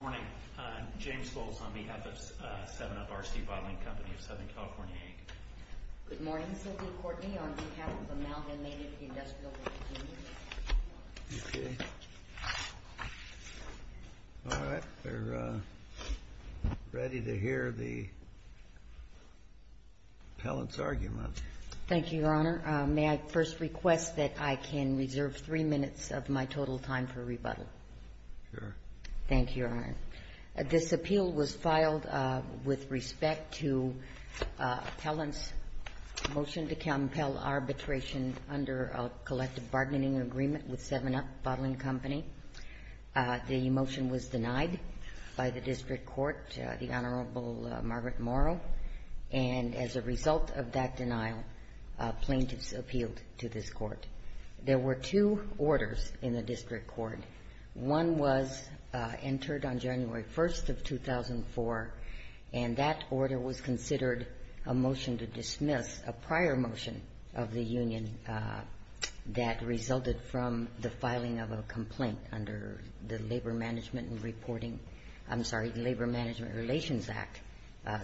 Good morning. James Scholes on behalf of Seven Up RC Bottling Company of Southern California, Inc. Good morning. Sylvia Courtney on behalf of Amalgamated Industrial. Okay. All right. We're ready to hear the appellant's argument. Thank you, Your Honor. May I first request that I can reserve three minutes of my total time for rebuttal? Sure. Thank you, Your Honor. This appeal was filed with respect to appellant's motion to compel arbitration under a collective bargaining agreement with Seven Up Bottling Company. The motion was denied by the district court, the Honorable Margaret Morrow, and as a result of that denial, plaintiffs appealed to this court. There were two orders in the district court. One was entered on January 1st of 2004, and that order was considered a motion to dismiss a prior motion of the union that resulted from the filing of a complaint under the Labor Management and Reporting — I'm sorry, the Labor Management Relations Act,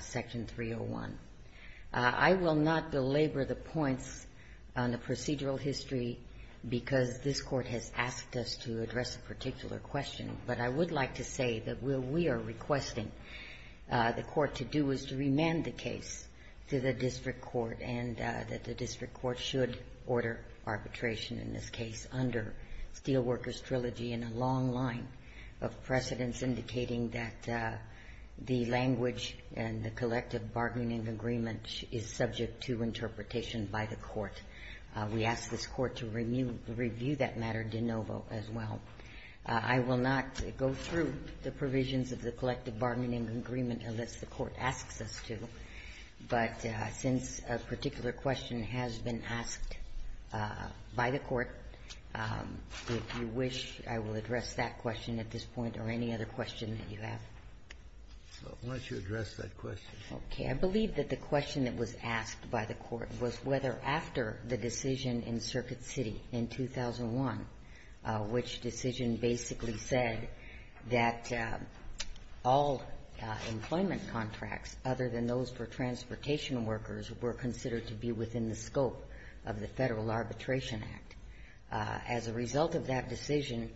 Section 301. I will not belabor the points on the procedural history because this court has asked us to address a particular question, but I would like to say that what we are requesting the court to do is to remand the case to the district court and that the district court should order arbitration in this case under Steelworkers Trilogy in a long line of precedents indicating that the language and the collective bargaining agreement is subject to interpretation by the court. We ask this court to review that matter de novo as well. I will not go through the provisions of the collective bargaining agreement unless the court asks us to, but since a particular question has been asked by the court, if you wish, I will address that question at this point or any other question that you have. Kennedy, I believe that the question that was asked by the court was whether after the decision in Circuit City in 2001, which decision basically said that all employment contracts other than those for transportation workers were considered to be within the scope of the Federal Arbitration Act. As a result of that decision,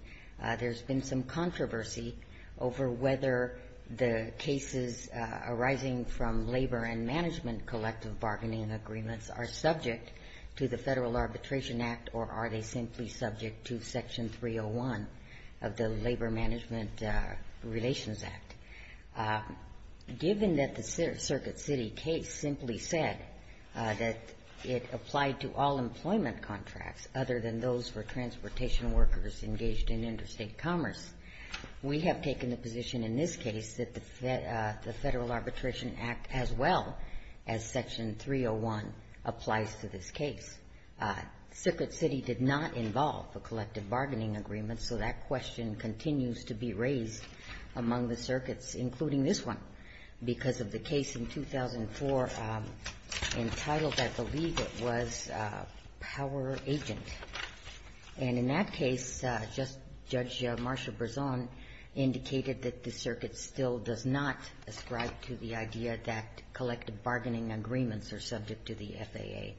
there's been some controversy over whether the cases arising from labor and management collective bargaining agreements are subject to the Federal Arbitration Act or are they simply subject to Section 301 of the Labor Management Relations Act. Given that the Circuit City case simply said that it applied to all employment contracts other than those for transportation workers engaged in interstate commerce, we have taken the position in this case that the Federal Arbitration Act, as well as Section 301, applies to this case. Circuit City did not involve a collective bargaining agreement, so that question continues to be raised among the circuits, including this one, because of the case in 2004 entitled, I believe it was, Power Agent. And in that case, Judge Marsha Brisson indicated that the circuit still does not ascribe to the idea that collective bargaining agreements are subject to the FAA.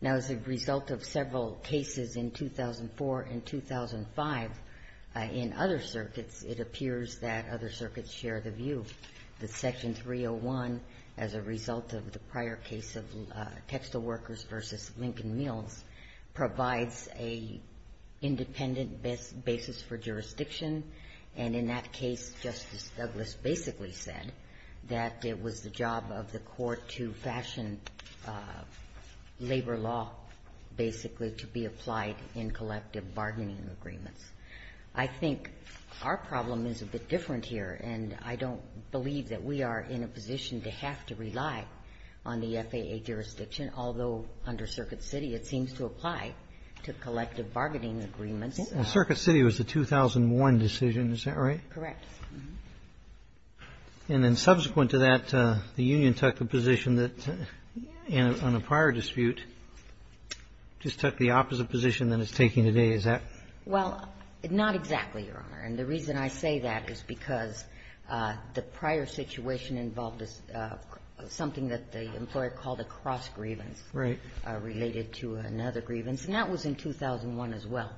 Now, as a result of several cases in 2004 and 2005 in other circuits, it appears that other circuits share the view that Section 301, as a result of the prior case of textile workers v. Lincoln Meals, provides a independent basis for jurisdiction. And in that case, Justice Douglas basically said that it was the job of the court to fashion labor law basically to be applied in collective bargaining agreements. I think our problem is a bit different here. And I don't believe that we are in a position to have to rely on the FAA jurisdiction, although under Circuit City it seems to apply to collective bargaining agreements. And Circuit City was the 2001 decision, is that right? Correct. And then subsequent to that, the union took a position that, in a prior dispute, just took the opposite position than it's taking today, is that? Well, not exactly, Your Honor. And the reason I say that is because the prior situation involved something that the employer called a cross grievance. Right. Related to another grievance. And that was in 2001 as well.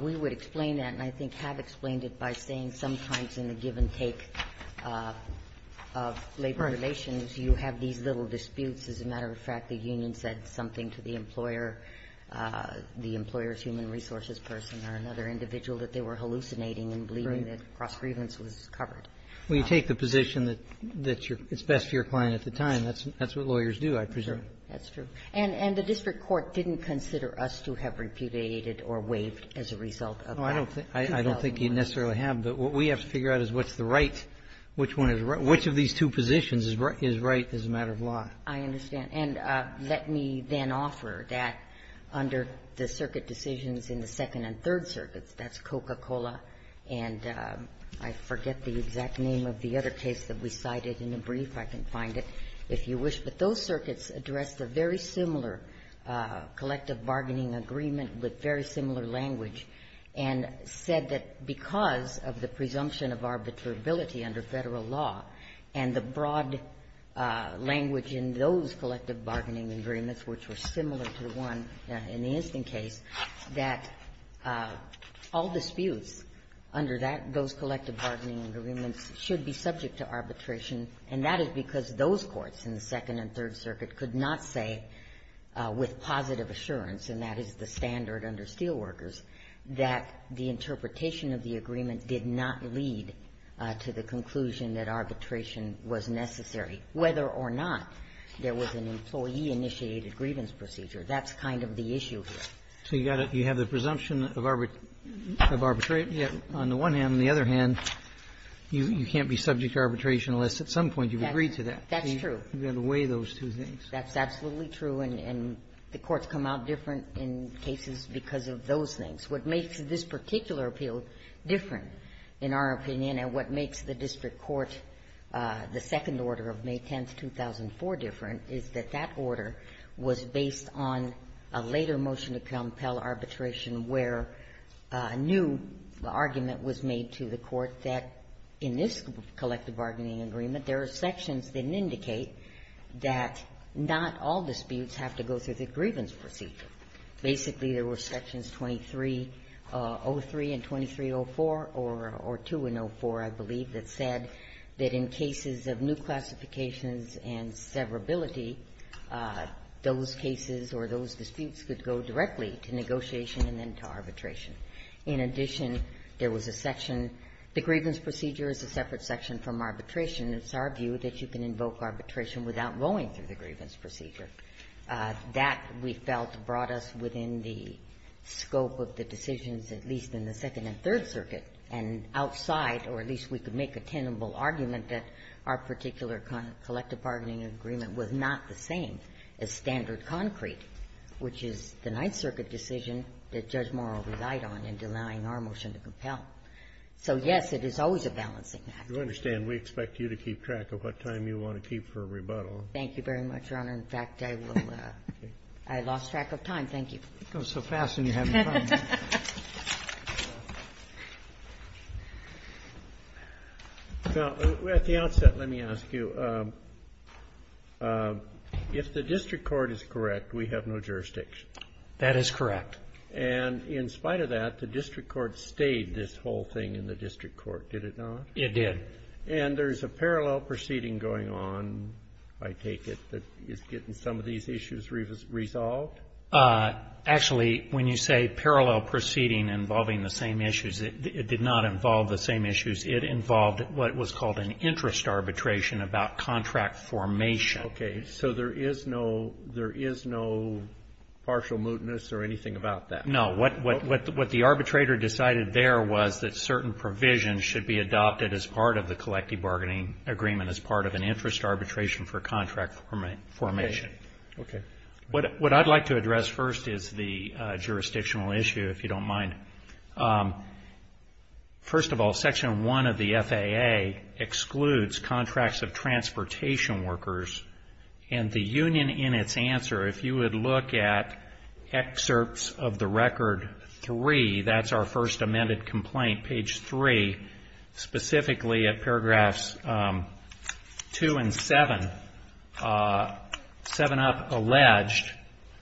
We would explain that, and I think have explained it by saying sometimes in the give and take of labor relations, you have these little disputes. As a matter of fact, the union said something to the employer, the employer's human resources person or another individual, that they were hallucinating and believing that cross grievance was covered. Well, you take the position that it's best for your client at the time. That's what lawyers do, I presume. That's true. And the district court didn't consider us to have repudiated or waived as a result of that 2001. No, I don't think you necessarily have. But what we have to figure out is what's the right, which one is right. Which of these two positions is right as a matter of law? I understand. And let me then offer that under the circuit decisions in the Second and Third Circuits, that's Coca-Cola and I forget the exact name of the other case that we cited in the brief, I can find it, if you wish. But those circuits addressed a very similar collective bargaining agreement with very similar language and said that because of the presumption of arbitrability under Federal law and the broad language in those collective bargaining agreements which were similar to the one in the instant case, that all disputes under that, those collective bargaining agreements, should be subject to arbitration. And that is because those courts in the Second and Third Circuit could not say with positive assurance, and that is the standard under Steelworkers, that the interpretation of the agreement did not lead to the conclusion that arbitration was necessary, whether or not there was an employee-initiated grievance procedure. That's kind of the issue here. So you got to – you have the presumption of arbitration. On the one hand. On the other hand, you can't be subject to arbitration unless at some point you've agreed to that. That's true. You've got to weigh those two things. That's absolutely true. And the courts come out different in cases because of those things. What makes this particular appeal different, in our opinion, and what makes the district court, the second order of May 10th, 2004, different is that that order was based on a later motion to compel arbitration where a new argument was made to the court that in this collective bargaining agreement, there are sections that indicate that not all disputes have to go through the grievance procedure. Basically, there were sections 2303 and 2304, or two in 04, I believe, that said that in cases of new classifications and severability, those cases or those disputes could go directly to negotiation and then to arbitration. In addition, there was a section – the grievance procedure is a separate section from arbitration. It's our view that you can invoke arbitration without going through the grievance procedure. That, we felt, brought us within the scope of the decisions, at least in the Second and Third Circuit, and outside, or at least we could make a tenable argument that our particular collective bargaining agreement was not the same as standard concrete, which is the Ninth Circuit decision that Judge Morrill relied on in denying our motion to compel. So, yes, it is always a balancing act. Kennedy. You understand, we expect you to keep track of what time you want to keep for a rebuttal. Thank you very much, Your Honor. In fact, I will – I lost track of time. Thank you. It goes so fast, and you have no time. Now, at the outset, let me ask you, if the district court is correct, we have no jurisdiction. That is correct. And in spite of that, the district court stayed this whole thing in the district court, did it not? It did. And there's a parallel proceeding going on, I take it, that is getting some of these issues resolved? Actually, when you say parallel proceeding involving the same issues, it did not involve the same issues. It involved what was called an interest arbitration about contract formation. Okay. So there is no – there is no partial mootness or anything about that? No. What the arbitrator decided there was that certain provisions should be adopted as part of the collective bargaining agreement, as part of an interest arbitration for contract formation. Okay. What I'd like to address first is the jurisdictional issue, if you don't mind. First of all, Section 1 of the FAA excludes contracts of transportation workers, and the union in its answer, if you would look at excerpts of the Record 3, that's our first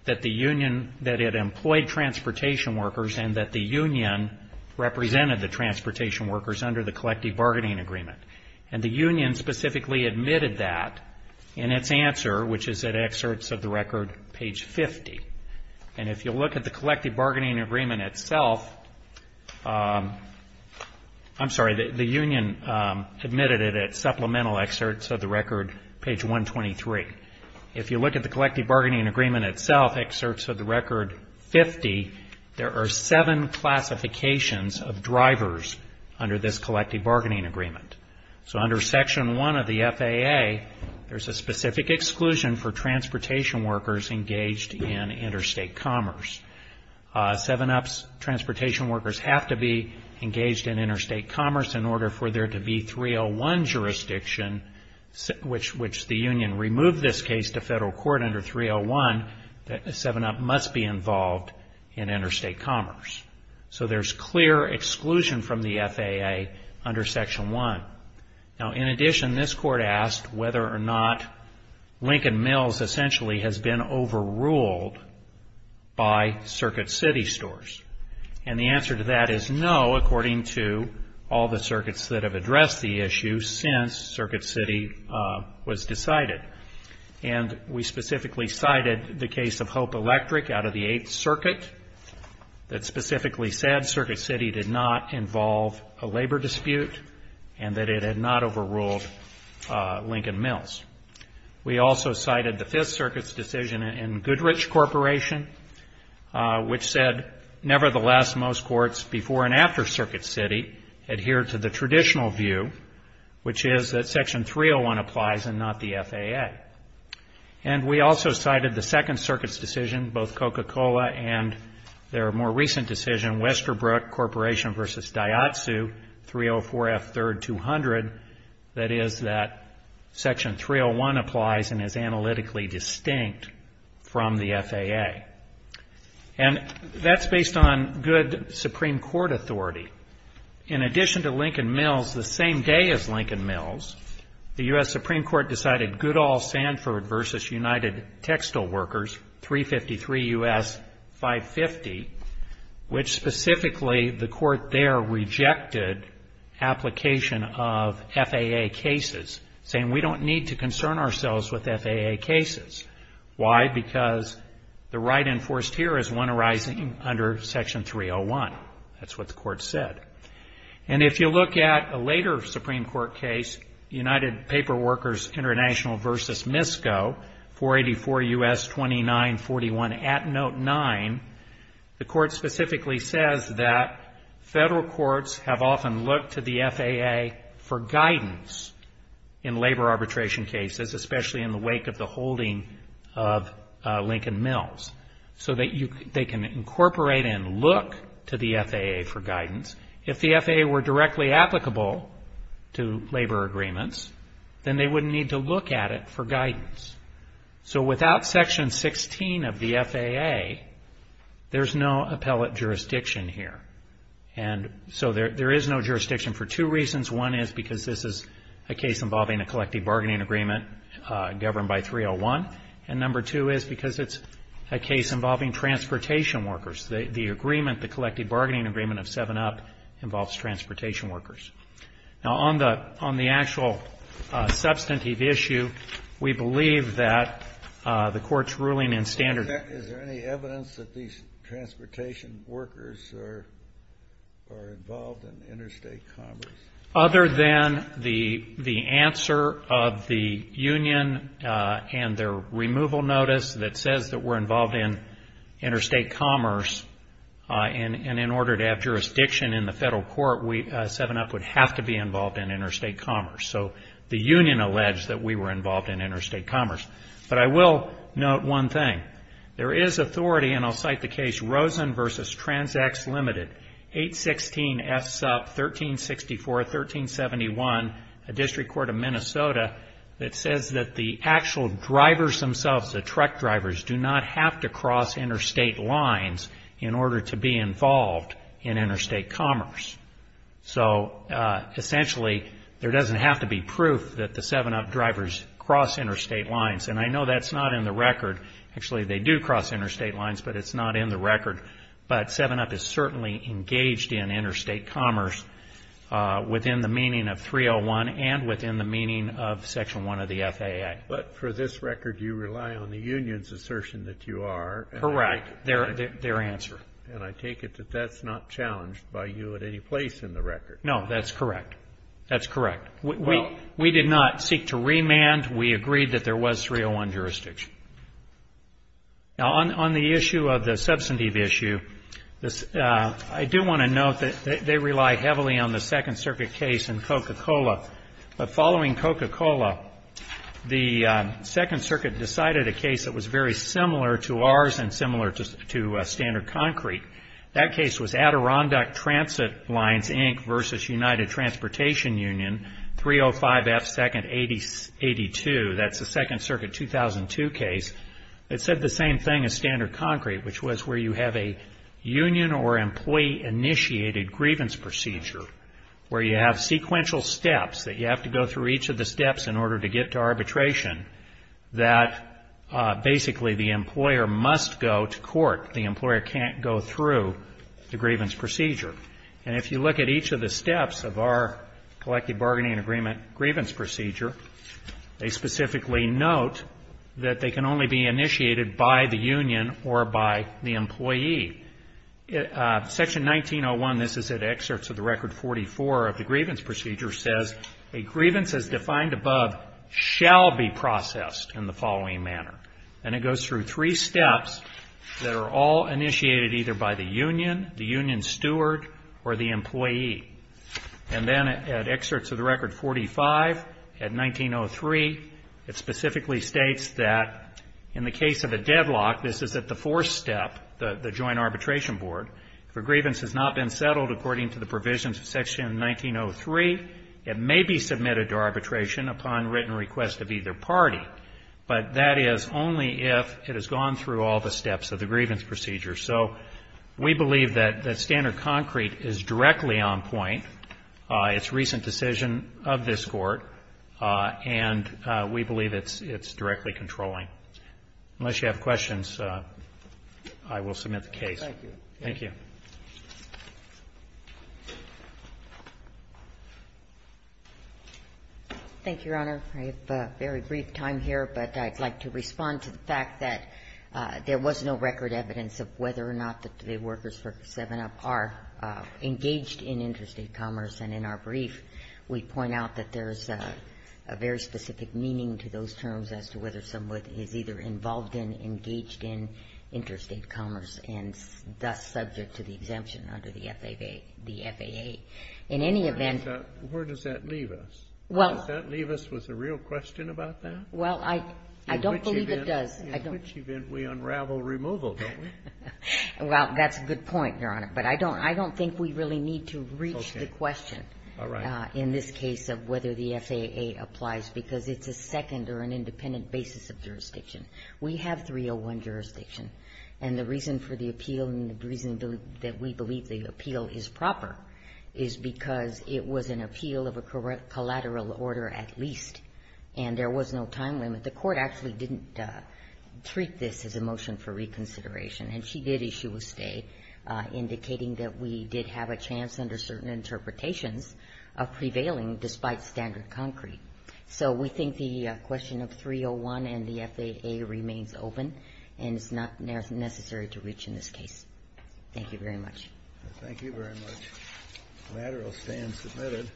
that the union – that it employed transportation workers and that the union represented the transportation workers under the collective bargaining agreement. And the union specifically admitted that in its answer, which is at excerpts of the Record page 50. And if you look at the collective bargaining agreement itself – I'm sorry, the union admitted it at supplemental excerpts of the Record page 123. If you look at the collective bargaining agreement itself, excerpts of the Record 50, there are seven classifications of drivers under this collective bargaining agreement. So under Section 1 of the FAA, there's a specific exclusion for transportation workers engaged in interstate commerce. Seven ups, transportation workers have to be engaged in interstate commerce in order for there to be 301 jurisdiction, which the union removed this case to federal court under 301 that a seven up must be involved in interstate commerce. So there's clear exclusion from the FAA under Section 1. Now, in addition, this court asked whether or not Lincoln Mills essentially has been overruled by Circuit City stores. And the answer to that is no, according to all the circuits that have addressed the issue since Circuit City was decided. And we specifically cited the case of Hope Electric out of the Eighth Circuit that specifically said Circuit City did not involve a labor dispute and that it had not overruled Lincoln Mills. We also cited the Fifth Circuit's decision in Goodrich Corporation, which said nevertheless most courts before and after Circuit City adhere to the traditional view, which is that Section 301 applies and not the FAA. And we also cited the Second Circuit's decision, both Coca-Cola and their more recent decision, Westerbrook Corporation v. Diatsu, 304F3200, that is that Section 301 applies and is analytically distinct from the FAA. And that's based on good Supreme Court authority. In addition to Lincoln Mills, the same day as Lincoln Mills, the U.S. Supreme Court decided Goodall Sanford v. United Textile Workers, 353 U.S. 550, which specifically the court there rejected application of FAA cases, saying we don't need to concern ourselves with FAA cases. Why? Because the right enforced here is one arising under Section 301. That's what the court said. And if you look at a later Supreme Court case, United Paper Workers International v. MISCO, 484 U.S. 2941 at Note 9, the court specifically says that federal courts have often looked to the FAA for guidance in labor arbitration cases, especially in the wake of the holding of Lincoln Mills, so that they can incorporate and look to the FAA for guidance. If the FAA were directly applicable to labor agreements, then they wouldn't need to look at it for guidance. So without Section 16 of the FAA, there's no appellate jurisdiction here. And so there is no jurisdiction for two reasons. One is because this is a case involving a collective bargaining agreement governed by 301. And number two is because it's a case involving transportation workers. The agreement, the collective bargaining agreement of 7-Up, involves transportation workers. Now, on the actual substantive issue, we believe that the court's ruling in standard Is there any evidence that these transportation workers are involved in interstate commerce? Other than the answer of the union and their removal notice that says that we're involved in interstate commerce, and in order to have jurisdiction in the federal court, 7-Up would have to be involved in interstate commerce. So the union alleged that we were involved in interstate commerce. But I will note one thing. There is authority, and I'll cite the case Rosen v. Transax Ltd., 816 S. Up, 1364, 1371, a district court of Minnesota, that says that the actual drivers themselves, the truck drivers, do not have to cross interstate lines in order to be involved in interstate commerce. So essentially, there doesn't have to be proof that the 7-Up drivers cross interstate lines. Actually, they do cross interstate lines, but it's not in the record. But 7-Up is certainly engaged in interstate commerce within the meaning of 301 and within the meaning of Section 1 of the FAA. But for this record, you rely on the union's assertion that you are. Correct. Their answer. And I take it that that's not challenged by you at any place in the record. No, that's correct. That's correct. We did not seek to remand. We agreed that there was 301 jurisdiction. Now, on the issue of the substantive issue, I do want to note that they rely heavily on the Second Circuit case in Coca-Cola. But following Coca-Cola, the Second Circuit decided a case that was very similar to ours and similar to Standard Concrete. That case was Adirondack Transit Lines, Inc. versus United Transportation Union, 305F, 2nd 82. That's the Second Circuit 2002 case. It said the same thing as Standard Concrete, which was where you have a union or employee initiated grievance procedure where you have sequential steps that you have to go through each of the steps in order to get to arbitration that basically the employer must go to court. The employer can't go through the grievance procedure. And if you look at each of the steps of our collective bargaining agreement grievance procedure, they specifically note that they can only be initiated by the union or by the employee. Section 1901, this is at excerpts of the Record 44 of the grievance procedure, says a grievance as defined above shall be processed in the following manner. And it goes through three steps that are all initiated either by the union, the union steward, or the employee. And then at excerpts of the Record 45, at 1903, it specifically states that in the case of a deadlock, this is at the fourth step, the joint arbitration board, if a grievance has not been settled according to the provisions of Section 1903, it may be submitted to arbitration upon written request of either party. But that is only if it has gone through all the steps of the grievance procedure. So we believe that standard concrete is directly on point. It's a recent decision of this Court, and we believe it's directly controlling. Unless you have questions, I will submit the case. Thank you. Thank you. Thank you, Your Honor. I have a very brief time here, but I'd like to respond to the fact that there was no record evidence of whether or not the workers for 7-Up are engaged in interstate commerce. And in our brief, we point out that there is a very specific meaning to those terms as to whether someone is either involved in, engaged in interstate commerce and thus subject to the exemption under the FAA. In any event Where does that leave us? Does that leave us with a real question about that? Well, I don't believe it does. In which event we unravel removal, don't we? Well, that's a good point, Your Honor. But I don't think we really need to reach the question in this case of whether the FAA applies, because it's a second or an independent basis of jurisdiction. We have 301 jurisdiction. And the reason for the appeal and the reason that we believe the appeal is proper is because it was an appeal of a collateral order at least, and there was no time limit. The Court actually didn't treat this as a motion for reconsideration, and she did issue a stay indicating that we did have a chance under certain interpretations of prevailing despite standard concrete. So we think the question of 301 and the FAA remains open, and it's not necessary to reach in this case. Thank you very much. Thank you very much. Collateral stand submitted.